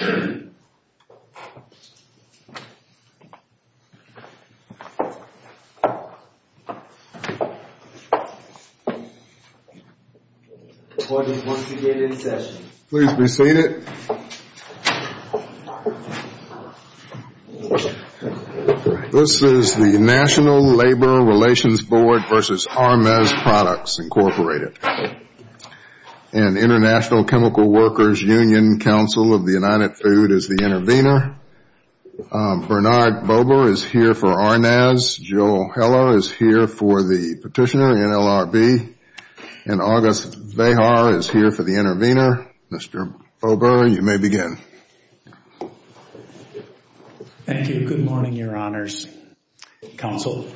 This is the National Labor Relations Board v. Arrmaz Products, Incorporated and International Chemical Workers Union Council of the United Food as the intervener. Bernard Bober is here for Arrmaz. Joel Heller is here for the petitioner, NLRB. And August Vejar is here for the intervener. Mr. Bober, you may begin. Thank you. Good morning, your honors, counsel.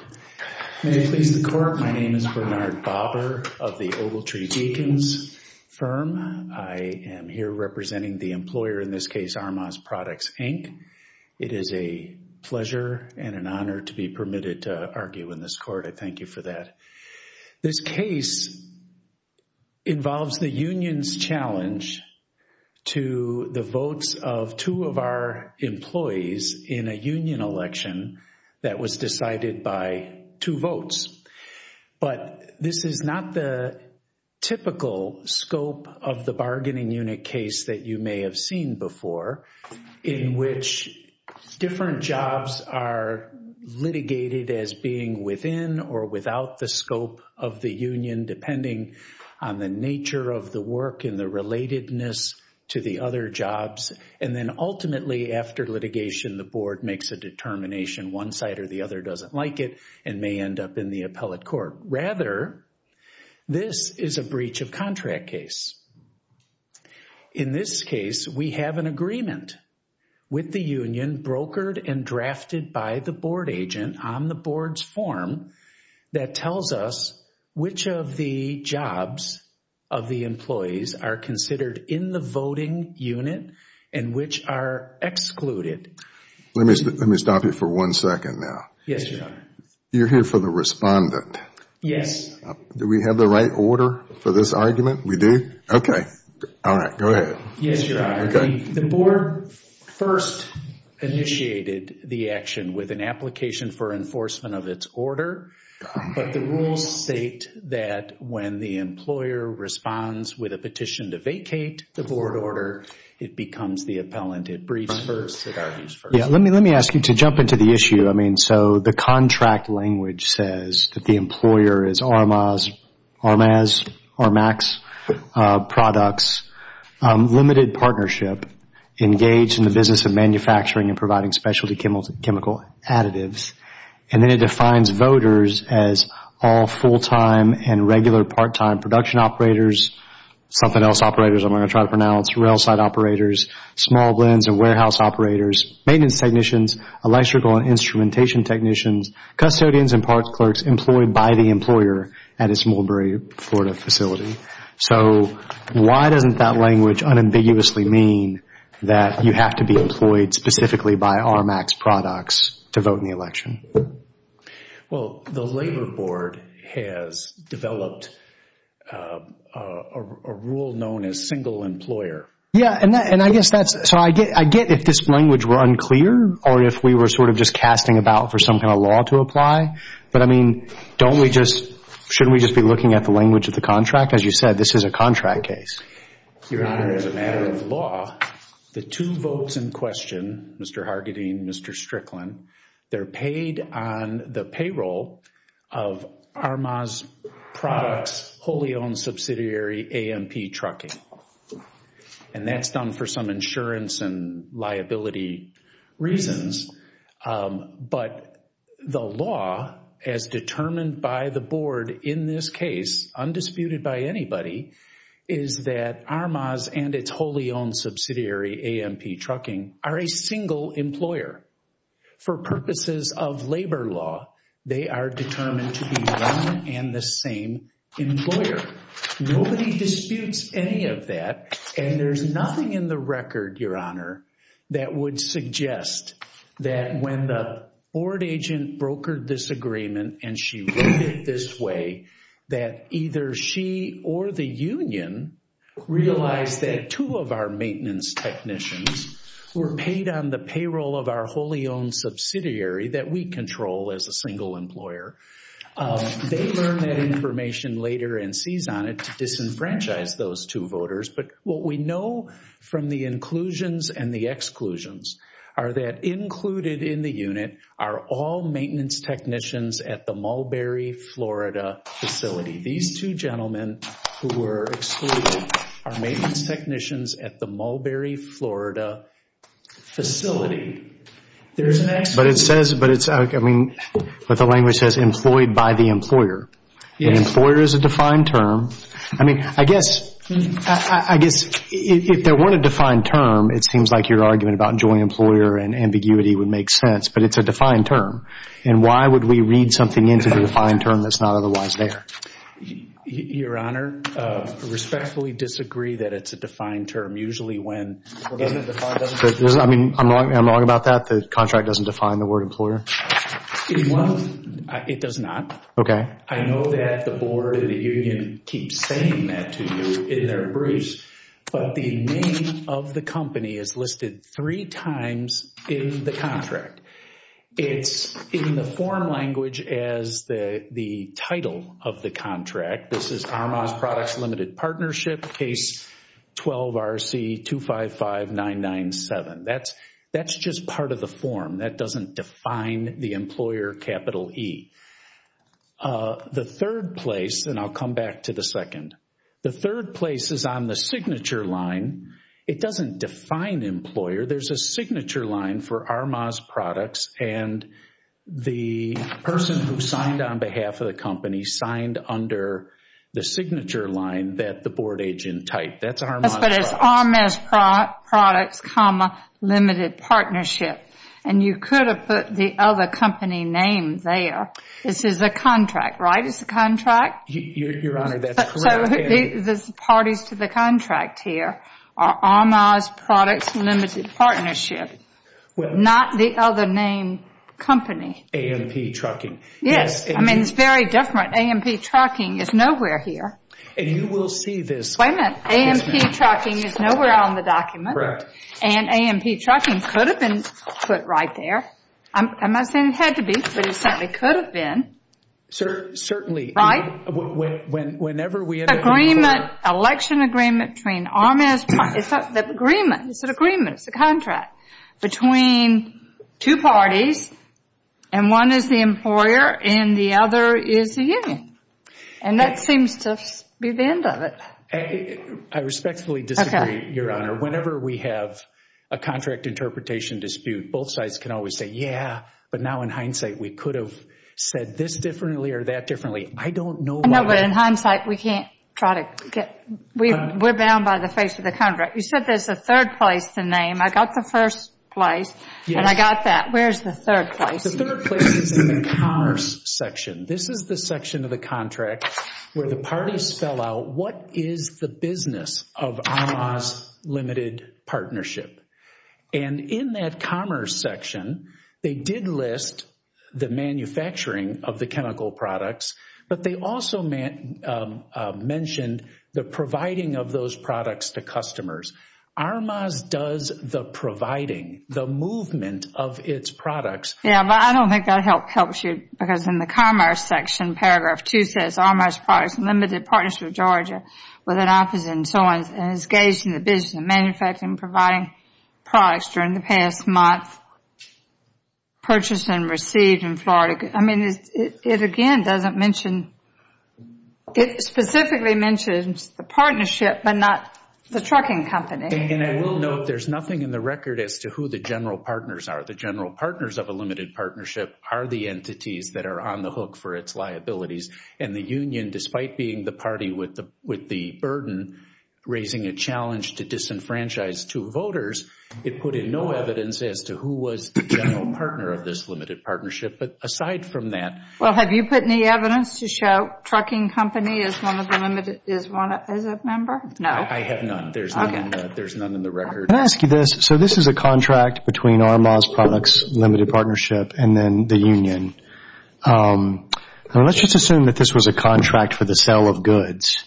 May it please the court, my name is Bernard Bober of the Ogletree Beacons firm. I am here representing the employer, in this case, Arrmaz Products Inc. It is a pleasure and an honor to be permitted to argue in this court. I thank you for that. This case involves the union's challenge to the votes of two of our employees in a union election that was decided by two votes. But this is not the typical scope of the bargaining unit case that you may have seen before, in which different jobs are litigated as being within or without the scope of the union, depending on the nature of the work and the relatedness to the other jobs. And then ultimately, after litigation, the board makes a determination, one side or the other doesn't like it, and may end up in the appellate court. Rather, this is a breach of contract case. In this case, we have an agreement with the union brokered and drafted by the board agent on the board's form that tells us which of the jobs of the employees are considered in the voting unit and which are excluded. Let me stop you for one second now. Yes, your honor. You're here for the respondent. Yes. Do we have the right order for this argument? We do? Okay. All right, go ahead. Yes, your honor. The board first initiated the action with an application for enforcement of its order, but the rules state that when the employer responds with a petition to vacate the board order, it becomes the appellant. It briefs first, it argues first. Yeah, let me ask you to jump into the issue. I mean, so the contract language says that the employer is Armaz, Armaz, Armaz Products, limited partnership, engaged in the business of manufacturing and providing specialty chemical additives, and then it defines voters as all full-time and regular part-time production operators, something else operators, I'm going to try to pronounce, railside operators, small blends and warehouse operators, maintenance technicians, electrical and instrumentation technicians, custodians and parts clerks employed by the employer at a Smallbury, Florida facility. So why doesn't that language unambiguously mean that you have to be employed specifically by Armaz Products to vote in the election? Well, the labor board has developed a rule known as single employer. Yeah, and I guess that's, so I get if this language were unclear or if we were sort of just casting about for some kind of law to apply, but I mean, don't we just, shouldn't we just be looking at the language of the contract? As you said, this is a contract case. Your Honor, as a matter of law, the two votes in question, Mr. Hargadine, Mr. Strickland, they're paid on the payroll of Armaz Products, wholly owned subsidiary AMP trucking. And that's done for some insurance and liability reasons. But the law, as determined by the board in this case, undisputed by anybody, is that Armaz and its wholly owned subsidiary AMP trucking are a single employer. For purposes of labor law, they are determined to be one and the same employer. Nobody disputes any of that. And there's nothing in the record, Your Honor, that would suggest that when the board agent brokered this agreement and she wrote it this way, that either she or the union realized that two of our maintenance technicians were paid on the payroll of our wholly owned subsidiary that we control as a single employer. They learned that information later and seized on it to disenfranchise those two voters. But what we know from the inclusions and the exclusions are that included in the unit are all maintenance technicians at the Mulberry, Florida facility. These two gentlemen who were excluded are maintenance technicians at the Mulberry, Florida facility. But it says, but it's, I mean, what the language says, employed by the employer. Employer is a defined term. I mean, I guess, I guess if there weren't a defined term, it seems like your argument about joining employer and ambiguity would make sense, but it's a defined term. And why would we read something into the defined term that's not otherwise there? Your Honor, I respectfully disagree that it's a defined term. Usually when, I mean, I'm wrong, I'm wrong about that. The contract doesn't define the word employer. Well, it does not. Okay. I know that the Board of the Union keeps saying that to you in their briefs, but the name of the company is listed three times in the contract. It's in the form language as the title of the contract. This is Armas Products Limited Partnership, Case 12-RC-255997. That's just part of the form. That doesn't define the employer capital E. The third place, and I'll come back to the second, the third place is on the signature line. It doesn't define employer. There's a signature line for Armas Products, and the person who signed on behalf of the company signed under the signature line that the board agent typed. That's Armas Products. But it's Armas Products, Limited Partnership. And you could have put the other company name there. This is a contract, right? It's a contract? Your Honor, that's correct. So the parties to the contract here are Armas Products, Limited Partnership, not the other name company. A&P Trucking. Yes. I mean, it's very different. A&P Trucking is nowhere here. And you will see this. Wait a minute. A&P Trucking is nowhere on the document, and A&P Trucking could have been put right there. I'm not saying it had to be, but it certainly could have been. Certainly. Whenever we have a... Agreement, election agreement between Armas Products. It's an agreement, it's a contract between two parties, and one is the employer and the other is the union. And that seems to be the end of it. I respectfully disagree, Your Honor. Whenever we have a contract interpretation dispute, both sides can always say, yeah, but now in hindsight, we could have said this differently or that differently. I don't know why... No, but in hindsight, we can't try to get... We're bound by the face of the contract. You said there's a third place to name. I got the first place, and I got that. Where's the third place? The third place is in the commerce section. This is the section of the contract where the parties spell out what is the business of Armas Limited Partnership. And in that commerce section, they did list the manufacturing of the chemical products, but they also mentioned the providing of those products to customers. Armas does the providing, the movement of its products. Yeah, but I don't think that helps you because in the commerce section, paragraph two says, Armas Products Limited Partnership of Georgia with an opposite and so on, and is engaged in the business of manufacturing and providing products during the past month, purchased and received in Florida. I mean, it again doesn't mention... It specifically mentions the partnership, but not the trucking company. And I will note, there's nothing in the record as to who the general partners are. The general partners of a limited partnership are the entities that are on the hook for its a challenge to disenfranchise two voters. It put in no evidence as to who was the general partner of this limited partnership. But aside from that... Well, have you put any evidence to show trucking company is one of the limited... is a member? No. I have none. There's none in the record. Can I ask you this? So this is a contract between Armas Products Limited Partnership and then the union. Let's just assume that this was a contract for the sale of goods,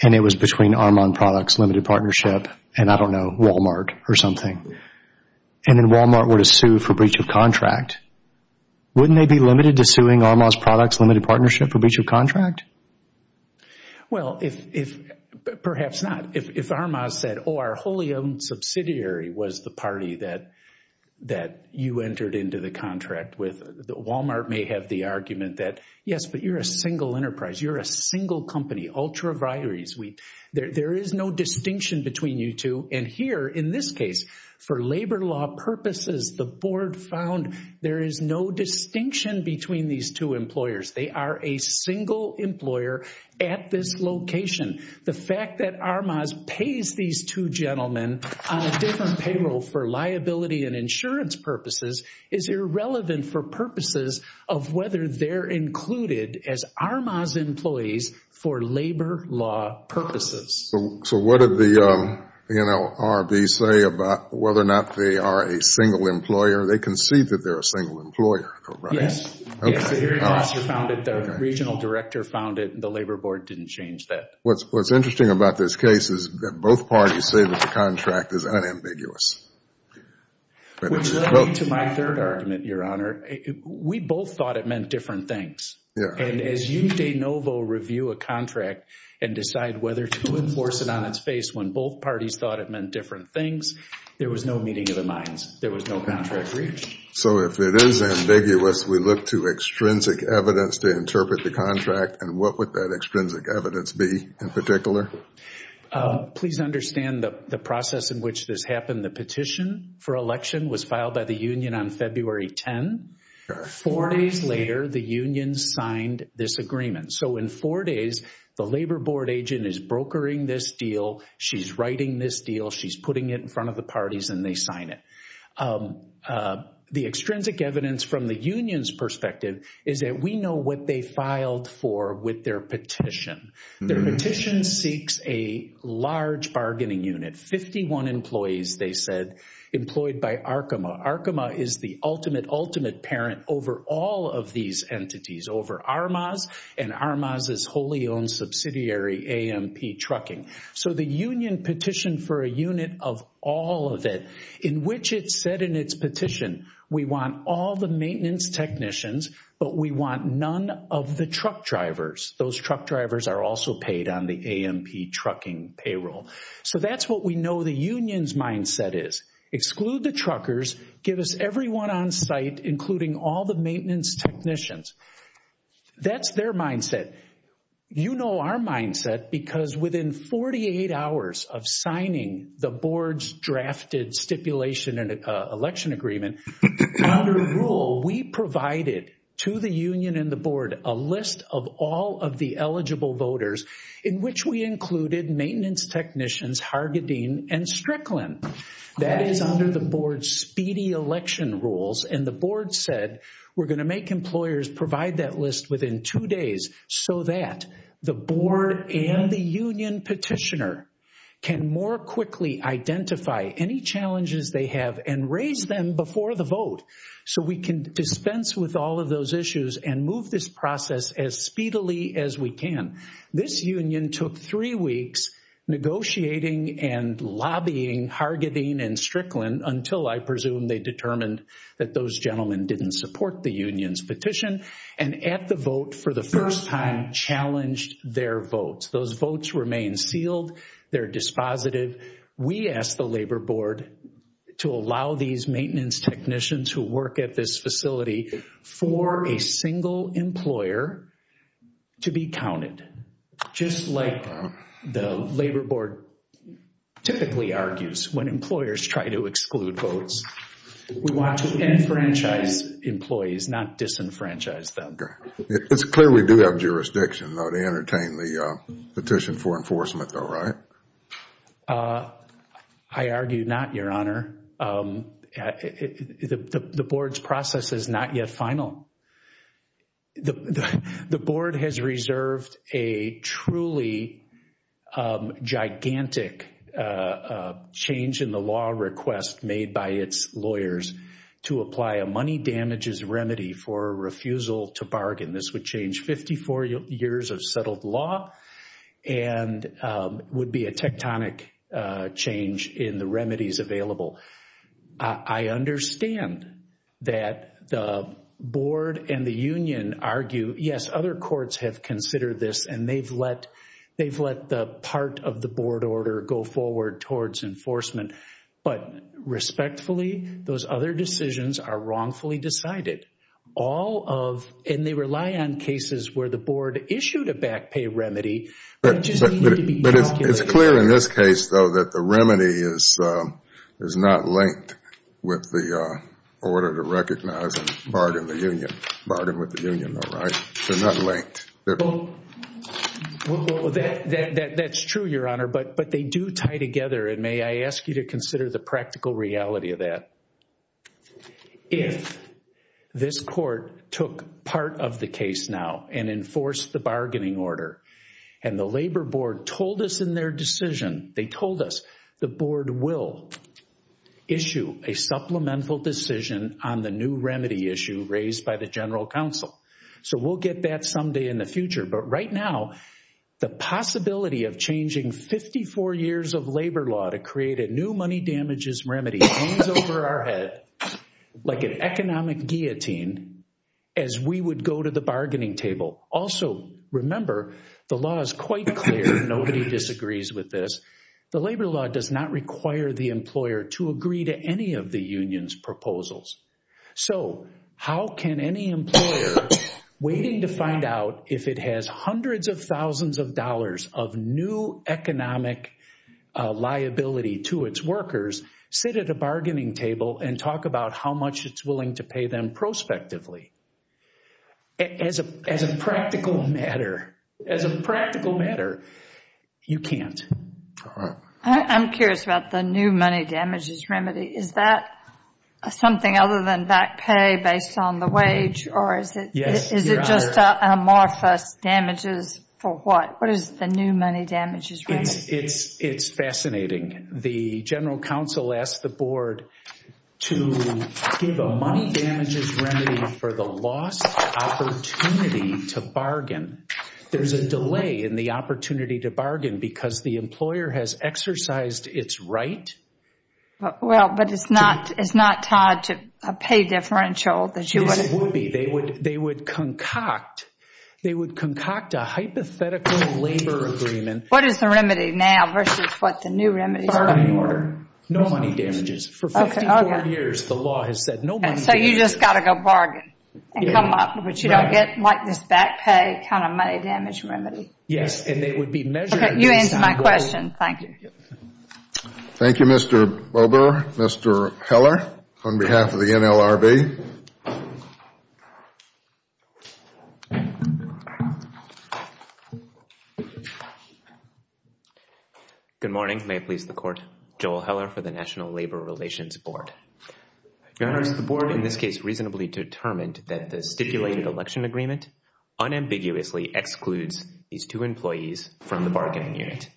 and it was between Armas Products Limited Partnership and, I don't know, Walmart or something. And then Walmart were to sue for breach of contract. Wouldn't they be limited to suing Armas Products Limited Partnership for breach of contract? Well, if... Perhaps not. If Armas said, oh, our wholly owned subsidiary was the party that you entered into the contract with, Walmart may have the argument that, yes, but you're a single enterprise. You're a single company, ultra vires. There is no distinction between you two. And here, in this case, for labor law purposes, the board found there is no distinction between these two employers. They are a single employer at this location. The fact that Armas pays these two gentlemen on a different payroll for liability and insurance purposes is irrelevant for purposes of whether they're included as Armas employees for labor law purposes. So what did the NLRB say about whether or not they are a single employer? They concede that they're a single employer, correct? Yes, the hearing officer found it, the regional director found it, and the labor board didn't change that. What's interesting about this case is that both parties say that the contract is unambiguous. Which led me to my third argument, Your Honor. We both thought it meant different things. And as you de novo review a contract and decide whether to enforce it on its face when both parties thought it meant different things, there was no meeting of the minds. There was no contract reached. So if it is ambiguous, we look to extrinsic evidence to interpret the contract, and what would that extrinsic evidence be in particular? Please understand the process in which this happened. The petition for election was filed by the union on February 10. Four days later, the union signed this agreement. So in four days, the labor board agent is brokering this deal. She's writing this deal. She's putting it in front of the parties and they sign it. The extrinsic evidence from the union's perspective is that we know what they filed for with their petition. Their petition seeks a large bargaining unit. 51 employees, they said, employed by Arkema. Arkema is the ultimate, ultimate parent over all of these entities, over Armaz and Armaz's wholly owned subsidiary, AMP Trucking. So the union petitioned for a unit of all of it, in which it said in its petition, we want all the maintenance technicians, but we want none of the truck drivers. Those truck drivers are also paid on the AMP Trucking payroll. So that's what we know the union's mindset is. Exclude the truckers, give us everyone on site, including all the maintenance technicians. That's their mindset. You know our mindset because within 48 hours of signing the board's drafted stipulation and election agreement, under rule, we provided to the union and the board a list of all of the eligible voters, in which we included maintenance technicians, Hargadine and Strickland. That is under the board's speedy election rules. And the board said, we're going to make employers provide that list within two days, so that the board and the union petitioner can more quickly identify any challenges they have and raise them before the vote. So we can dispense with all of those issues and move this process as speedily as we can. This union took three weeks negotiating and lobbying Hargadine and Strickland, until I presume they determined that those gentlemen didn't support the union's petition and at the vote for the first time challenged their votes. Those votes remain sealed. They're dispositive. We asked the labor board to allow these maintenance technicians who work at this facility for a single employer to be counted. Just like the labor board typically argues when employers try to exclude votes. We want to enfranchise employees, not disenfranchise them. It's clear we do have jurisdiction though to entertain the petition for enforcement though, right? I argue not, Your Honor. The board's process is not yet final. The board has reserved a truly gigantic change in the law request made by its lawyers to apply a money damages remedy for refusal to bargain. This would change 54 years of settled law and would be a tectonic change in the remedies available. I understand that the board and the union argue, yes, other courts have considered this and they've let the part of the board order go forward towards enforcement. But respectfully, those other decisions are wrongfully decided. All of, and they rely on cases where the board issued a back pay remedy. It's clear in this case though that the remedy is not linked with the order to recognize and bargain with the union, right? They're not linked. That's true, Your Honor, but they do tie together. May I ask you to consider the practical reality of that? If this court took part of the case now and enforced the bargaining order and the labor board told us in their decision, they told us the board will issue a supplemental decision on the new remedy issue raised by the general counsel. So we'll get that someday in the future. But right now, the possibility of changing 54 years of labor law to create a new money remedy hangs over our head like an economic guillotine as we would go to the bargaining table. Also, remember, the law is quite clear. Nobody disagrees with this. The labor law does not require the employer to agree to any of the union's proposals. So how can any employer, waiting to find out if it has hundreds of thousands of dollars of new economic liability to its workers, sit at a bargaining table and talk about how much it's willing to pay them prospectively? As a practical matter, you can't. I'm curious about the new money damages remedy. Is that something other than back pay based on the wage or is it just amorphous damages for what? What is the new money damages? It's fascinating. The general counsel asked the board to give a money damages remedy for the lost opportunity to bargain. There's a delay in the opportunity to bargain because the employer has exercised its right. Well, but it's not it's not tied to a pay differential. Yes, it would be. They would they would concoct they would concoct a hypothetical labor agreement. What is the remedy now versus what the new remedy? No money damages. For 54 years, the law has said no money damages. So you just got to go bargain and come up, but you don't get like this back pay kind of money damage remedy. Yes, and they would be measuring. You answered my question. Thank you. Thank you, Mr. Bober. Mr. Heller, on behalf of the NLRB. Good morning. May it please the court. Joel Heller for the National Labor Relations Board. Your honors, the board in this case reasonably determined that the stipulated election agreement unambiguously excludes these two employees from the bargaining unit,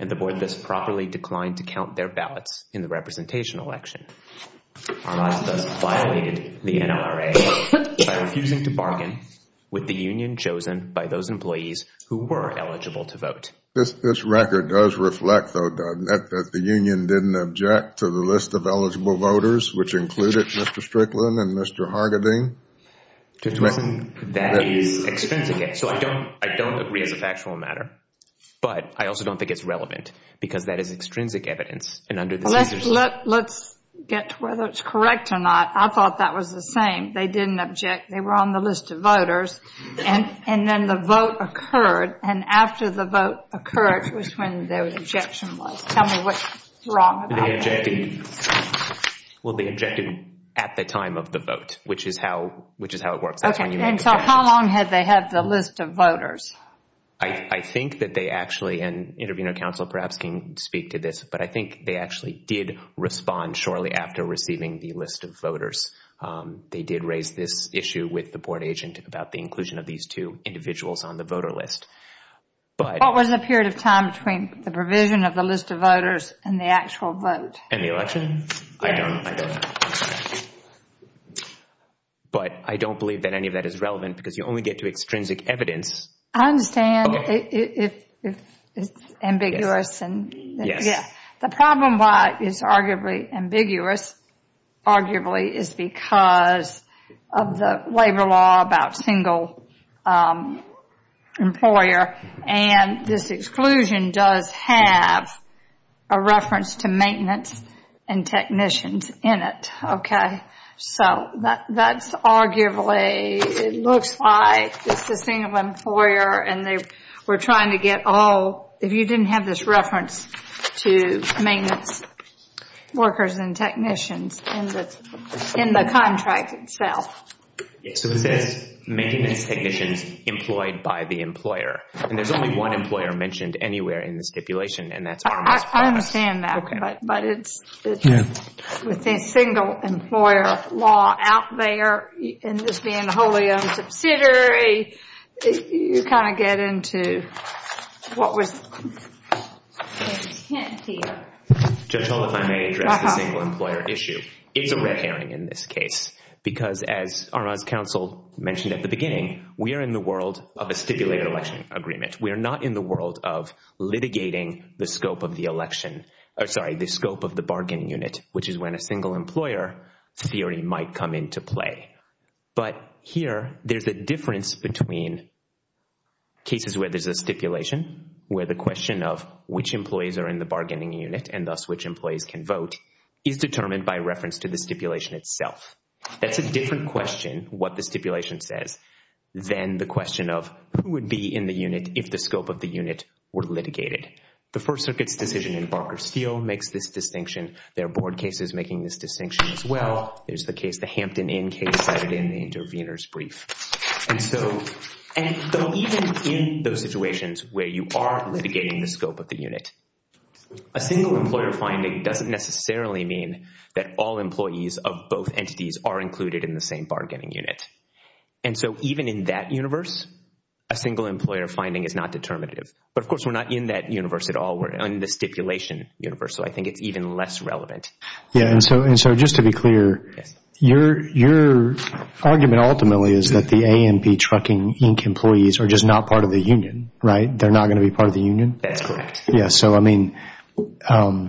and the board thus properly declined to count their ballots in the representation election. Our last violated the NRA refusing to bargain with the union chosen by those employees who were eligible to vote. This record does reflect, though, that the union didn't object to the list of eligible voters, which included Mr. Strickland and Mr. Hargadine. That is extrinsic. So I don't I don't agree as a factual matter, but I also don't think it's relevant because that is extrinsic evidence. Let's get to whether it's correct or not. I thought that was the same. They didn't object. They were on the list of voters. And then the vote occurred. And after the vote occurred was when their objection was. Tell me what's wrong. Well, they objected at the time of the vote, which is how which is how it works. Okay, and so how long had they had the list of voters? I think that they actually, and intervener counsel perhaps can speak to this, but I think they actually did respond shortly after receiving the list of voters. They did raise this issue with the board agent about the inclusion of these two individuals on the voter list. But what was the period of time between the provision of the list of voters and the actual vote and the election? But I don't believe that any of that is relevant because you only get to extrinsic evidence. I understand if it's ambiguous. The problem why it's arguably ambiguous, arguably, is because of the labor law about single employer. And this exclusion does have a reference to maintenance and technicians in it. So that's arguably, it looks like it's a single employer and they were trying to get all, if you didn't have this reference to maintenance workers and technicians in the contract itself. So it says maintenance technicians employed by the employer, and there's only one employer mentioned anywhere in the stipulation. I understand that, but with the single employer law out there and this being a wholly owned subsidiary, you kind of get into what was the intent here. Judge Hull, if I may address the single employer issue. It's a red herring in this case because as Arma's counsel mentioned at the beginning, we are in the world of a stipulated election agreement. We are not in the world of litigating the scope of the election, or sorry, the scope of the bargaining unit, which is when a single employer theory might come into play. But here, there's a difference between cases where there's a stipulation, where the question of which employees are in the bargaining unit and thus which employees can vote is determined by reference to the stipulation itself. That's a different question, what the stipulation says, than the question of who would be in the unit if the scope of the unit were litigated. The First Circuit's decision in Barker Steel makes this distinction. There are board cases making this distinction as well. There's the case, the Hampton Inn case cited in the intervener's brief. And even in those situations where you are litigating the scope of the unit, a single employer finding doesn't necessarily mean that all employees of both entities are included in the same bargaining unit. And so even in that universe, a single employer finding is not determinative. But of course, we're not in that universe at all. We're in the stipulation universe, so I think it's even less relevant. Yeah, and so just to be clear, your argument ultimately is that the A&P Trucking Inc. employees are just not part of the union, right? They're not going to be part of the union? That's correct. Yeah, so I mean, well,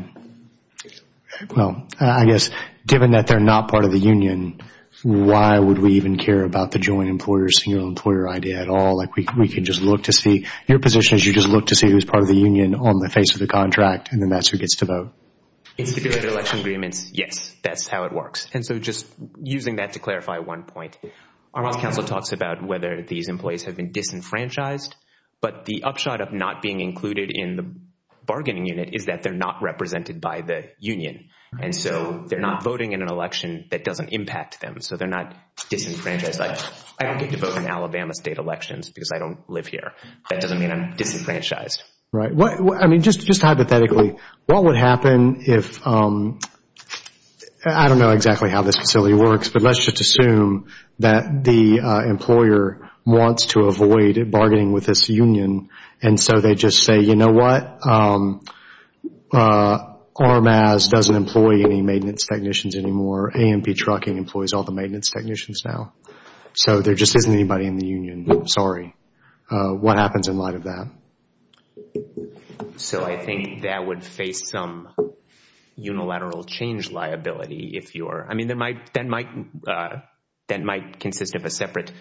I guess given that they're not part of the union, why would we even care about the joint employer, single employer idea at all? Like, we can just look to see, your position is you just look to see who's part of the union on the face of the contract, and then that's who gets to vote. In stipulated election agreements, yes, that's how it works. And so just using that to clarify one point, our last council talks about whether these employees have been disenfranchised, but the upshot of not being included in the bargaining unit is that they're not represented by the union. And so they're not voting in an election that doesn't impact them. So they're not disenfranchised. Like, I don't get to vote in Alabama state elections because I don't live here. That doesn't mean I'm disenfranchised. Right. I mean, just hypothetically, what would happen if, I don't know exactly how this facility works, but let's just assume that the employer wants to avoid bargaining with this union, and so they just say, you know what, RMAS doesn't employ any maintenance technicians anymore, AMP Trucking employs all the maintenance technicians now. So there just isn't anybody in the union. What happens in light of that? So I think that would face some unilateral change liability if you're, I mean, that might consist of a separate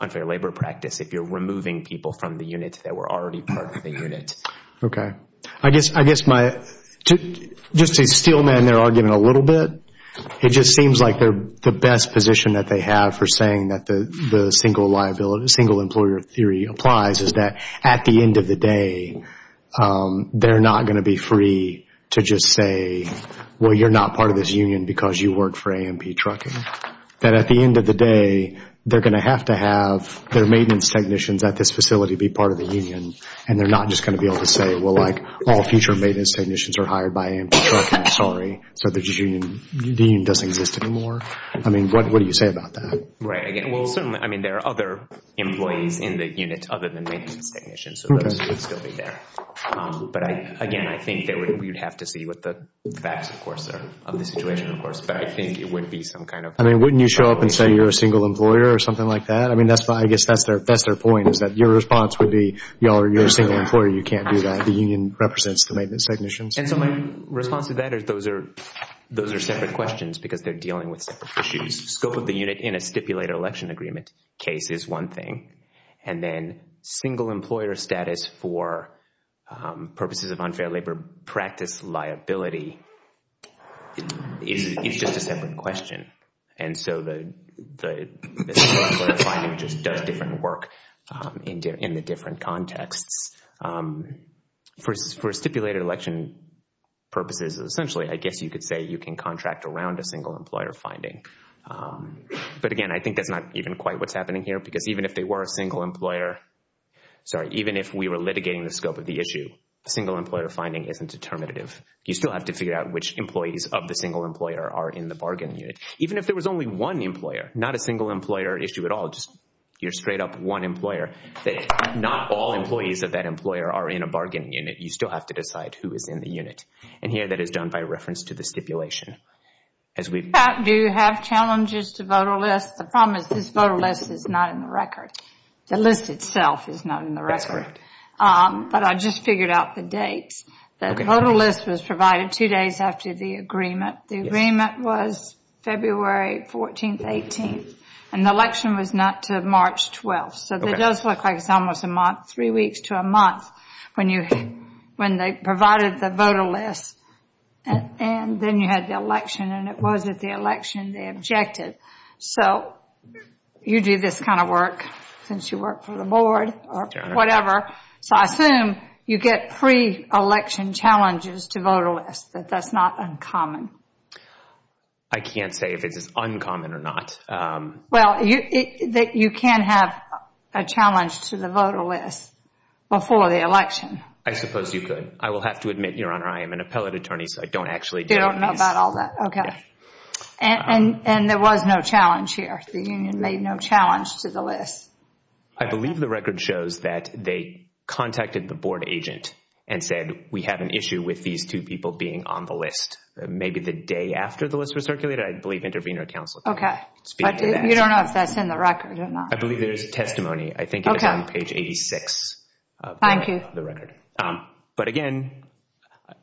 unfair labor practice if you're removing people from the unit that were already part of the unit. Okay. I guess my, just to steel man their argument a little bit, it just seems like the best position that they have for saying that the single employer theory applies is that at the end of the day, they're not going to be free to just say, well, you're not part of this union because you work for AMP Trucking. That at the end of the day, they're going to have to have their maintenance technicians at this facility be part of the union, and they're not just going to be able to say, all future maintenance technicians are hired by AMP Trucking, sorry, so the union doesn't exist anymore. I mean, what do you say about that? Right. Again, well, certainly, I mean, there are other employees in the unit other than maintenance technicians, so those would still be there. But again, I think that we'd have to see what the facts, of course, are of the situation, of course, but I think it would be some kind of... I mean, wouldn't you show up and say you're a single employer or something like that? I mean, that's why I guess that's their point is that your response would be, you're a single employer, you can't do that, the union represents the maintenance technicians. And so my response to that is those are separate questions because they're dealing with separate issues. Scope of the unit in a stipulated election agreement case is one thing, and then single employer status for purposes of unfair labor practice liability is just a separate question. And so the single employer finding just does different work in the different contexts. For stipulated election purposes, essentially, I guess you could say you can contract around a single employer finding. But again, I think that's not even quite what's happening here because even if they were a single employer, sorry, even if we were litigating the scope of the issue, single employer finding isn't determinative. You still have to figure out which employees of the single employer are in the bargain unit. Even if there was only one employer, not a single employer issue at all, just you're straight up one employer. Not all employees of that employer are in a bargaining unit. You still have to decide who is in the unit. And here that is done by reference to the stipulation. Do you have challenges to voter lists? The problem is this voter list is not in the record. The list itself is not in the record. But I just figured out the dates. The voter list was provided two days after the agreement. The agreement was February 14th, 18th. And the election was not to March 12th. So it does look like it's almost a month, three weeks to a month when they provided the voter list. And then you had the election. And it was at the election they objected. So you do this kind of work since you work for the board or whatever. So I assume you get pre-election challenges to voter lists, that that's not uncommon. I can't say if it's uncommon or not. Well, you can have a challenge to the voter list before the election. I suppose you could. I will have to admit, Your Honor, I am an appellate attorney. So I don't actually know about all that. And there was no challenge here. The union made no challenge to the list. I believe the record shows that they contacted the board agent and said, we have an issue with these two people being on the list. Maybe the day after the list was circulated, I believe intervener counsel. OK. You don't know if that's in the record or not. I believe there's a testimony. I think it was on page 86 of the record. But again,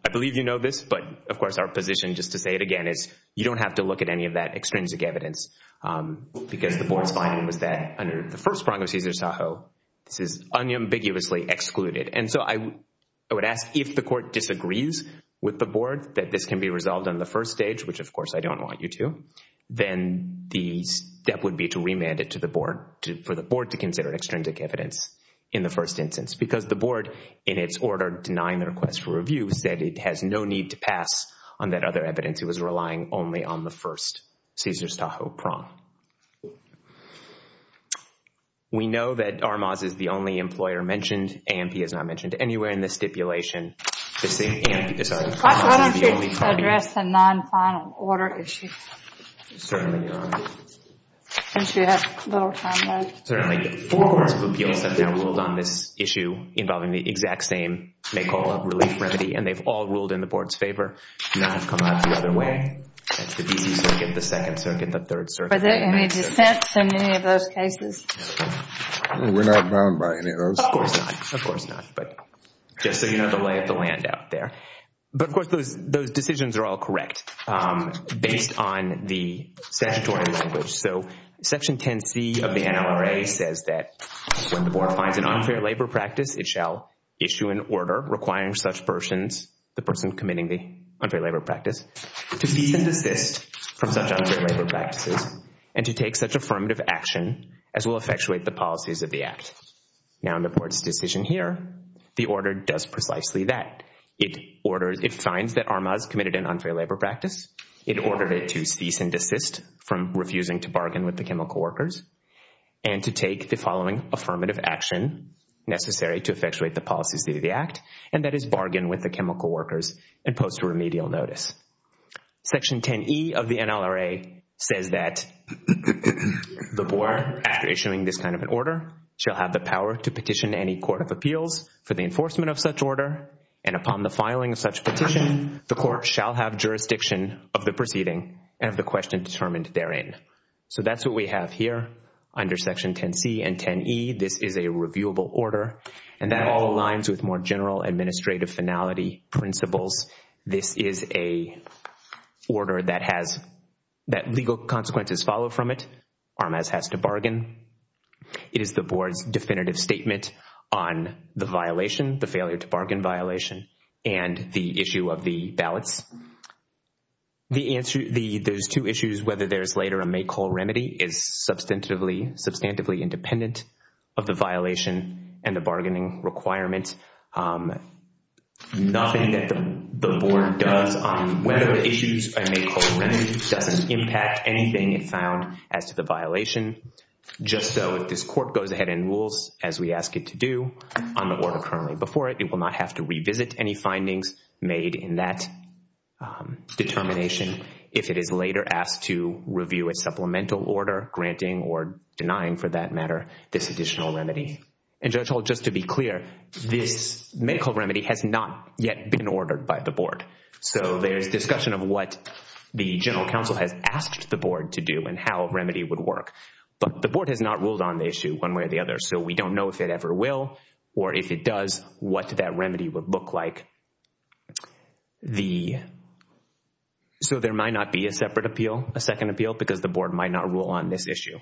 I believe you know this. But of course, our position, just to say it again, is you don't have to look at any of that extrinsic evidence because the board's finding was that under the First Prong of Cesar Sajo, this is unambiguously excluded. And so I would ask if the court disagrees with the board that this can be resolved on the first stage, which of course I don't want you to, then the step would be to remand it to the board, for the board to consider extrinsic evidence in the first instance. Because the board, in its order denying the request for review, said it has no need to pass on that other evidence. It was relying only on the first Cesar Sajo prong. We know that Armaz is the only employer mentioned. Ampey is not mentioned anywhere in this stipulation. Just saying Ampey is the only party. Why don't you address the non-final order issue? Certainly, Your Honor. Since we have little time left. Certainly, four courts of appeals have now ruled on this issue involving the exact same NACOLA relief remedy. And they've all ruled in the board's favor. None have come out the other way. That's the D.C. Circuit, the Second Circuit, the Third Circuit. Are there any dissents in any of those cases? We're not bound by any of those. Of course not. But just so you know the lay of the land out there. But of course, those decisions are all correct based on the statutory language. So Section 10C of the NLRA says that when the board finds an unfair labor practice, it shall issue an order requiring such persons, the person committing the unfair labor practice, to cease and desist from such unfair labor practices and to take such affirmative action as will effectuate the policies of the act. Now in the board's decision here, the order does precisely that. It orders, it finds that Armaz committed an unfair labor practice. It ordered it to cease and desist from refusing to bargain with the chemical workers and to take the following affirmative action necessary to effectuate the policies of the act. And that is bargain with the chemical workers and post remedial notice. Section 10E of the NLRA says that the board, after issuing this kind of an order, shall have the power to petition any court of appeals for the enforcement of such order. And upon the filing of such petition, the court shall have jurisdiction of the proceeding and of the question determined therein. So that's what we have here under Section 10C and 10E. This is a reviewable order. And that all aligns with more general administrative finality principles. This is a order that has, that legal consequences follow from it. Armaz has to bargain. It is the board's definitive statement on the violation, the failure to bargain violation, and the issue of the ballots. The answer, the, those two issues, whether there's later a make whole remedy is substantively, substantively independent of the violation and the bargaining requirement. Nothing that the board does on whether the issues are make whole remedy doesn't impact anything it found as to the violation. Just so if this court goes ahead and rules as we ask it to do on the order currently before it, it will not have to revisit any findings made in that determination. If it is later asked to review a supplemental order granting or denying for that matter this additional remedy. And Judge Hall, just to be clear, this make whole remedy has not yet been ordered by the board. So there's discussion of what the general counsel has asked the board to do and how remedy would work. But the board has not ruled on the issue one way or the other. So we don't know if it ever will or if it does, what that remedy would look like. The, so there might not be a separate appeal, a second appeal, because the board might not rule on this issue.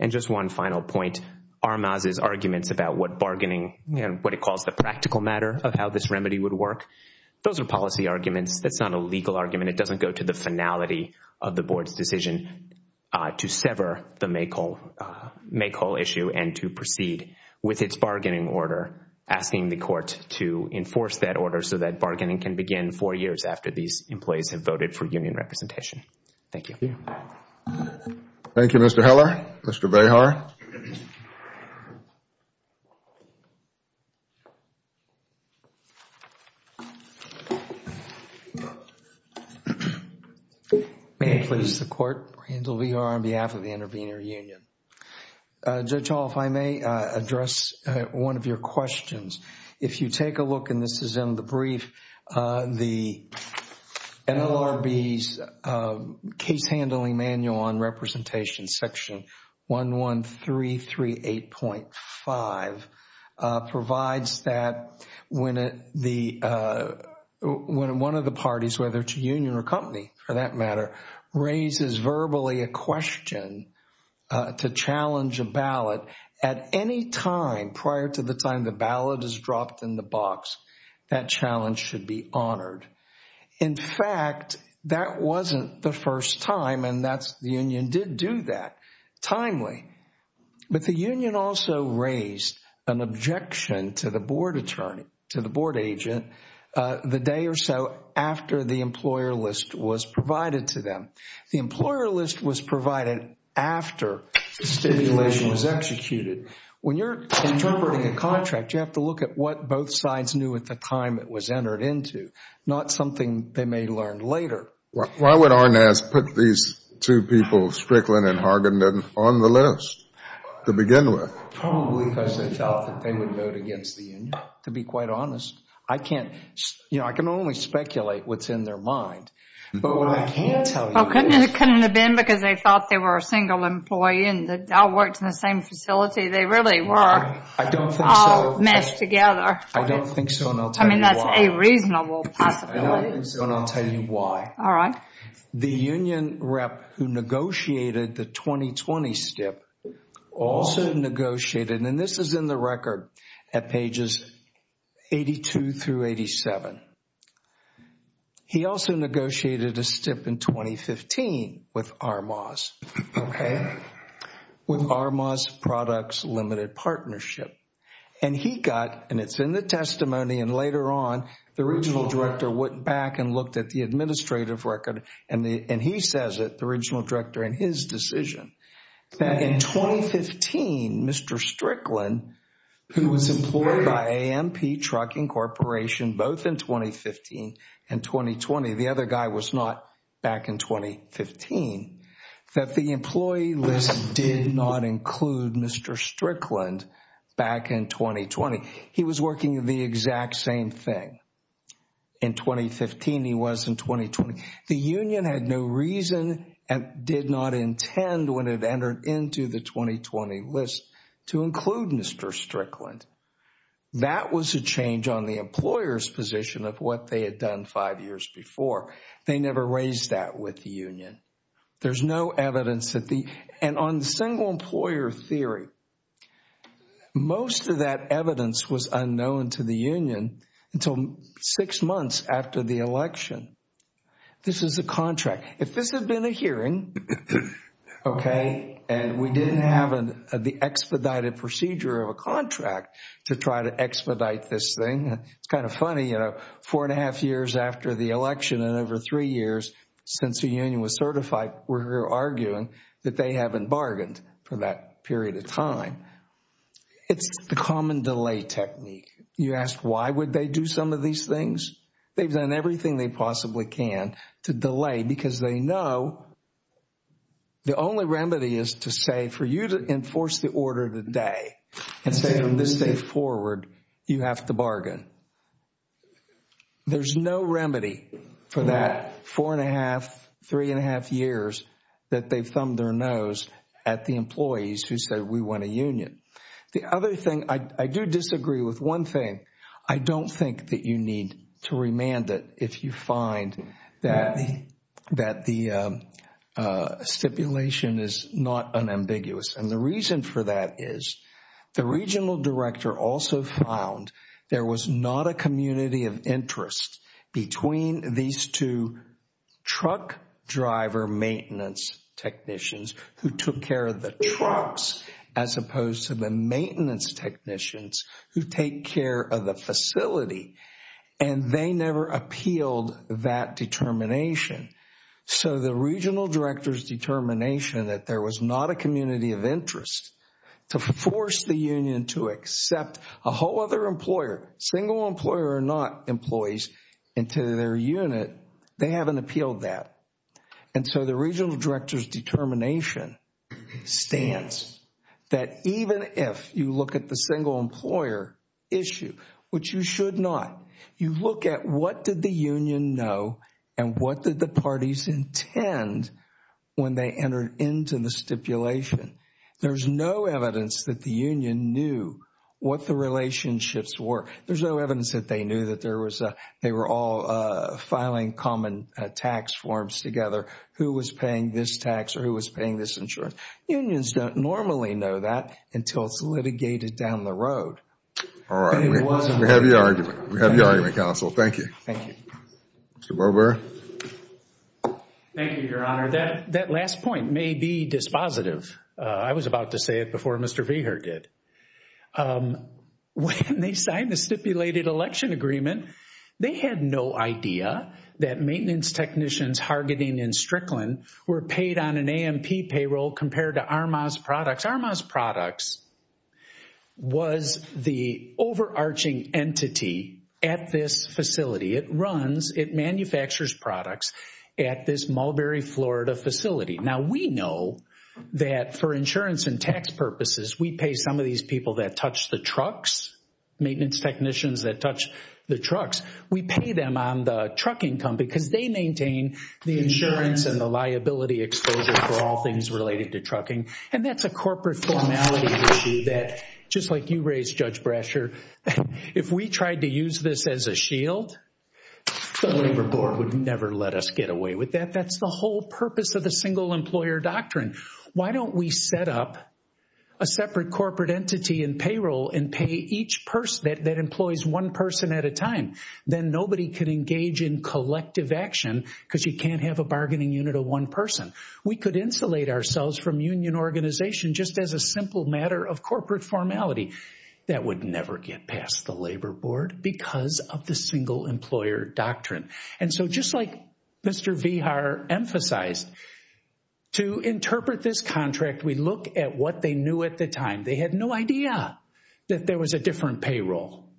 And just one final point, Armaz's arguments about what bargaining, what he calls the practical matter of how this remedy would work, those are policy arguments. That's not a legal argument. It doesn't go to the finality of the board's decision to sever the make whole issue and to proceed with its bargaining order, asking the court to enforce that order so that bargaining can begin four years after these employees have voted for union representation. Thank you. Thank you, Mr. Heller. Mr. Behar. May it please the court, Randall Behar on behalf of the Intervenor Union. Judge Hall, if I may address one of your questions. If you take a look, and this is in the brief, the NLRB's case handling manual on representation section 11338.5 provides that when one of the parties, whether it's a union or company for that matter, raises verbally a question to challenge a ballot at any time prior to the time the ballot is dropped in the box, that challenge should be honored. In fact, that wasn't the first time, and the union did do that timely. But the union also raised an objection to the board attorney, to the board agent, the day or so after the employer list was provided to them. The employer list was provided after the stipulation was executed. When you're interpreting a contract, you have to look at what both sides knew at the time it was entered into, not something they may learn later. Why would Arnaz put these two people, Strickland and Hargenden, on the list to begin with? Probably because they thought that they would vote against the union, to be quite honest. I can't, you know, I can only speculate what's in their mind, but what I can tell you is. Well, couldn't it have been because they thought they were a single employee and that worked in the same facility? They really were all messed together. I don't think so, and I'll tell you why. I mean, that's a reasonable possibility. And I'll tell you why. All right. The union rep who negotiated the 2020 stip also negotiated, and this is in the record at pages 82 through 87. He also negotiated a stip in 2015 with Arnaz, okay? With Arnaz Products Limited Partnership. And he got, and it's in the testimony and later on, the original director went back and looked at the administrative record, and he says it, the original director, in his decision, that in 2015, Mr. Strickland, who was employed by AMP Trucking Corporation both in 2015 and 2020, the other guy was not back in 2015, that the employee list did not include Mr. Strickland back in 2020. He was working the exact same thing. In 2015, he was in 2020. The union had no reason and did not intend when it entered into the 2020 list to include Mr. Strickland. That was a change on the employer's position of what they had done five years before. They never raised that with the union. There's no evidence that the, and on the single employer theory, most of that evidence was unknown to the union until six months after the election. This is a contract. If this had been a hearing, okay, and we didn't have the expedited procedure of a contract to try to expedite this thing, it's kind of funny, you know, four and a half years after the election and over three years since the union was certified, we're arguing that they haven't bargained for that period of time. It's the common delay technique. You ask why would they do some of these things? They've done everything they possibly can to delay because they know the only remedy is to say for you to enforce the order today and say from this day forward, you have to There's no remedy for that four and a half, three and a half years that they've thumbed their nose at the employees who said we want a union. The other thing, I do disagree with one thing. I don't think that you need to remand it if you find that the stipulation is not unambiguous and the reason for that is the regional director also found there was not a community of interest between these two truck driver maintenance technicians who took care of the trucks as opposed to the maintenance technicians who take care of the facility and they never appealed that determination. So the regional director's determination that there was not a community of interest to force the union to accept a whole other employer, single employer or not employees into their unit, they haven't appealed that. And so the regional director's determination stands that even if you look at the single employer issue, which you should not, you look at what did the union know and what did the parties intend when they entered into the stipulation. There's no evidence that the union knew what the relationships were. There's no evidence that they knew that they were all filing common tax forms together, who was paying this tax or who was paying this insurance. Unions don't normally know that until it's litigated down the road. All right. We have your argument. We have your argument, counsel. Thank you. Thank you. Thank you, Your Honor. That last point may be dispositive. I was about to say it before Mr. Veeher did. When they signed the stipulated election agreement, they had no idea that maintenance technicians hargeting in Strickland were paid on an AMP payroll compared to Armaz Products. Armaz Products was the overarching entity at this facility. It runs, it manufactures products at this Mulberry, Florida facility. Now, we know that for insurance and tax purposes, we pay some of these people that touch the trucks, maintenance technicians that touch the trucks, we pay them on the truck income because they maintain the insurance and the liability exposure for all things related to trucking. And that's a corporate formality issue that, just like you raised, Judge Brasher, if we tried to use this as a shield, the Labor Board would never let us get away with that. That's the whole purpose of the Single Employer Doctrine. Why don't we set up a separate corporate entity in payroll and pay each person that employs one person at a time? Then nobody can engage in collective action because you can't have a bargaining unit of one person. We could insulate ourselves from union organization just as a simple matter of corporate formality. That would never get past the Labor Board because of the Single Employer Doctrine. And so, just like Mr. Vihar emphasized, to interpret this contract, we look at what they knew at the time. They had no idea that there was a different payroll.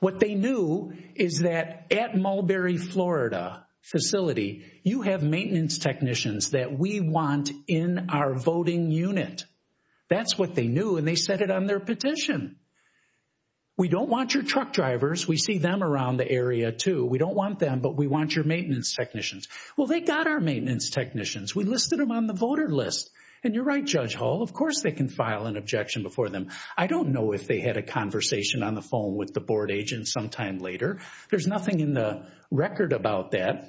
What they knew is that at Mulberry, Florida facility, you have maintenance technicians that we want in our voting unit. That's what they knew, and they said it on their petition. We don't want your truck drivers. We see them around the area, too. We don't want them, but we want your maintenance technicians. Well, they got our maintenance technicians. We listed them on the voter list. And you're right, Judge Hall. Of course, they can file an objection before them. I don't know if they had a conversation on the phone with the board agent sometime later. There's nothing in the record about that.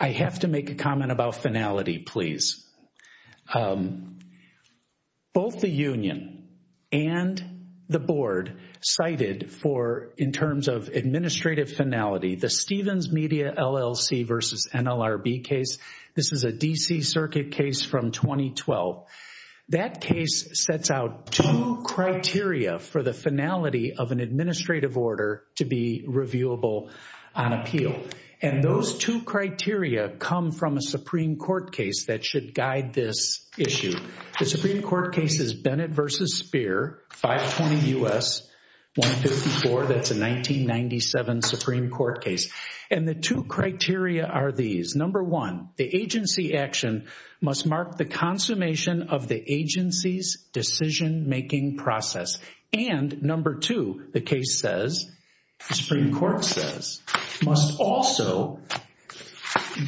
I have to make a comment about finality, please. Both the union and the board cited for, in terms of administrative finality, the Stevens Media LLC versus NLRB case, this is a D.C. Circuit case from 2012. That case sets out two criteria for the finality of an administrative order to be reviewable on appeal. And those two criteria come from a Supreme Court case that should guide this issue. The Supreme Court case is Bennett versus Speer, 520 U.S., 154. That's a 1997 Supreme Court case. And the two criteria are these. Number one, the agency action must mark the consummation of the agency's decision-making process. And number two, the case says, the Supreme Court says, must also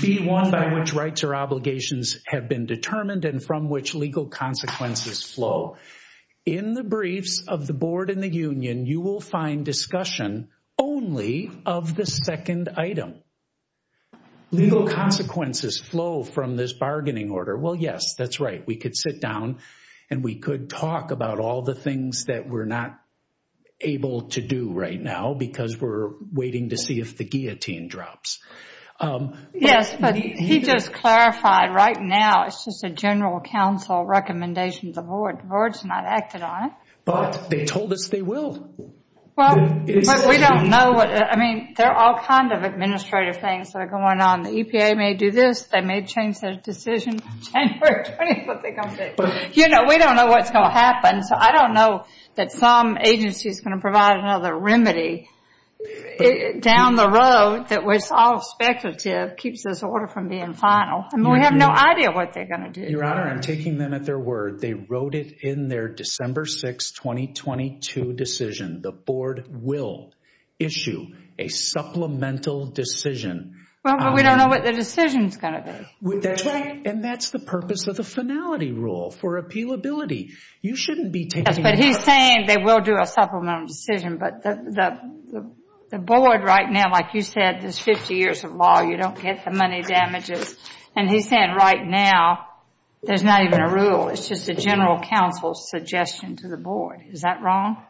be one by which rights or obligations have been determined and from which legal consequences flow. In the briefs of the board and the union, you will find discussion only of the second item. Legal consequences flow from this bargaining order. Well, yes, that's right. We could sit down and we could talk about all the things that we're not able to do right now because we're waiting to see if the guillotine drops. Yes, but he just clarified right now it's just a general counsel recommendation of the The board's not acted on it. But they told us they will. Well, we don't know. I mean, there are all kinds of administrative things that are going on. The EPA may do this. They may change their decision on January 20th. You know, we don't know what's going to happen. So I don't know that some agency is going to provide another remedy down the road that was all speculative, keeps this order from being final. And we have no idea what they're going to do. Your Honor, I'm taking them at their word. They wrote it in their December 6, 2022 decision. The board will issue a supplemental decision. Well, we don't know what the decision is going to be. And that's the purpose of the finality rule for appealability. You shouldn't be taking that. But he's saying they will do a supplemental decision. But the board right now, like you said, there's 50 years of law. You don't get the money damages. And he's saying right now there's not even a rule. It's just a general counsel suggestion to the board. Is that wrong?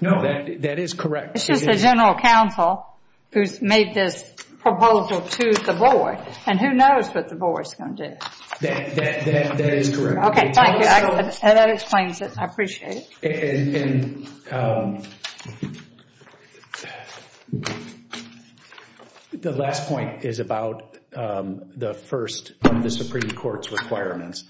No, that is correct. It's just a general counsel who's made this proposal to the board. And who knows what the board is going to do. That is correct. OK, thank you. And that explains it. I appreciate it. The last point is about the first of the Supreme Court's requirements.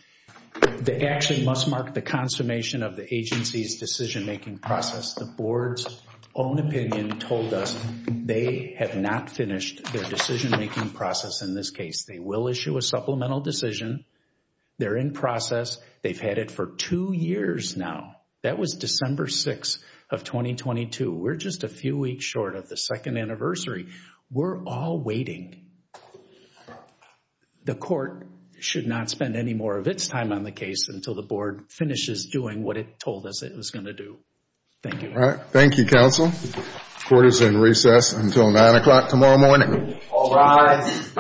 The action must mark the consummation of the agency's decision-making process. The board's own opinion told us they have not finished their decision-making process in this case. They will issue a supplemental decision. They're in process. They've had it for two years now. That was December 6 of 2022. We're just a few weeks short of the second anniversary. We're all waiting. The court should not spend any more of its time on the case until the board finishes doing what it told us it was going to do. Thank you. All right. Thank you, counsel. Court is in recess until 9 o'clock tomorrow morning. All rise.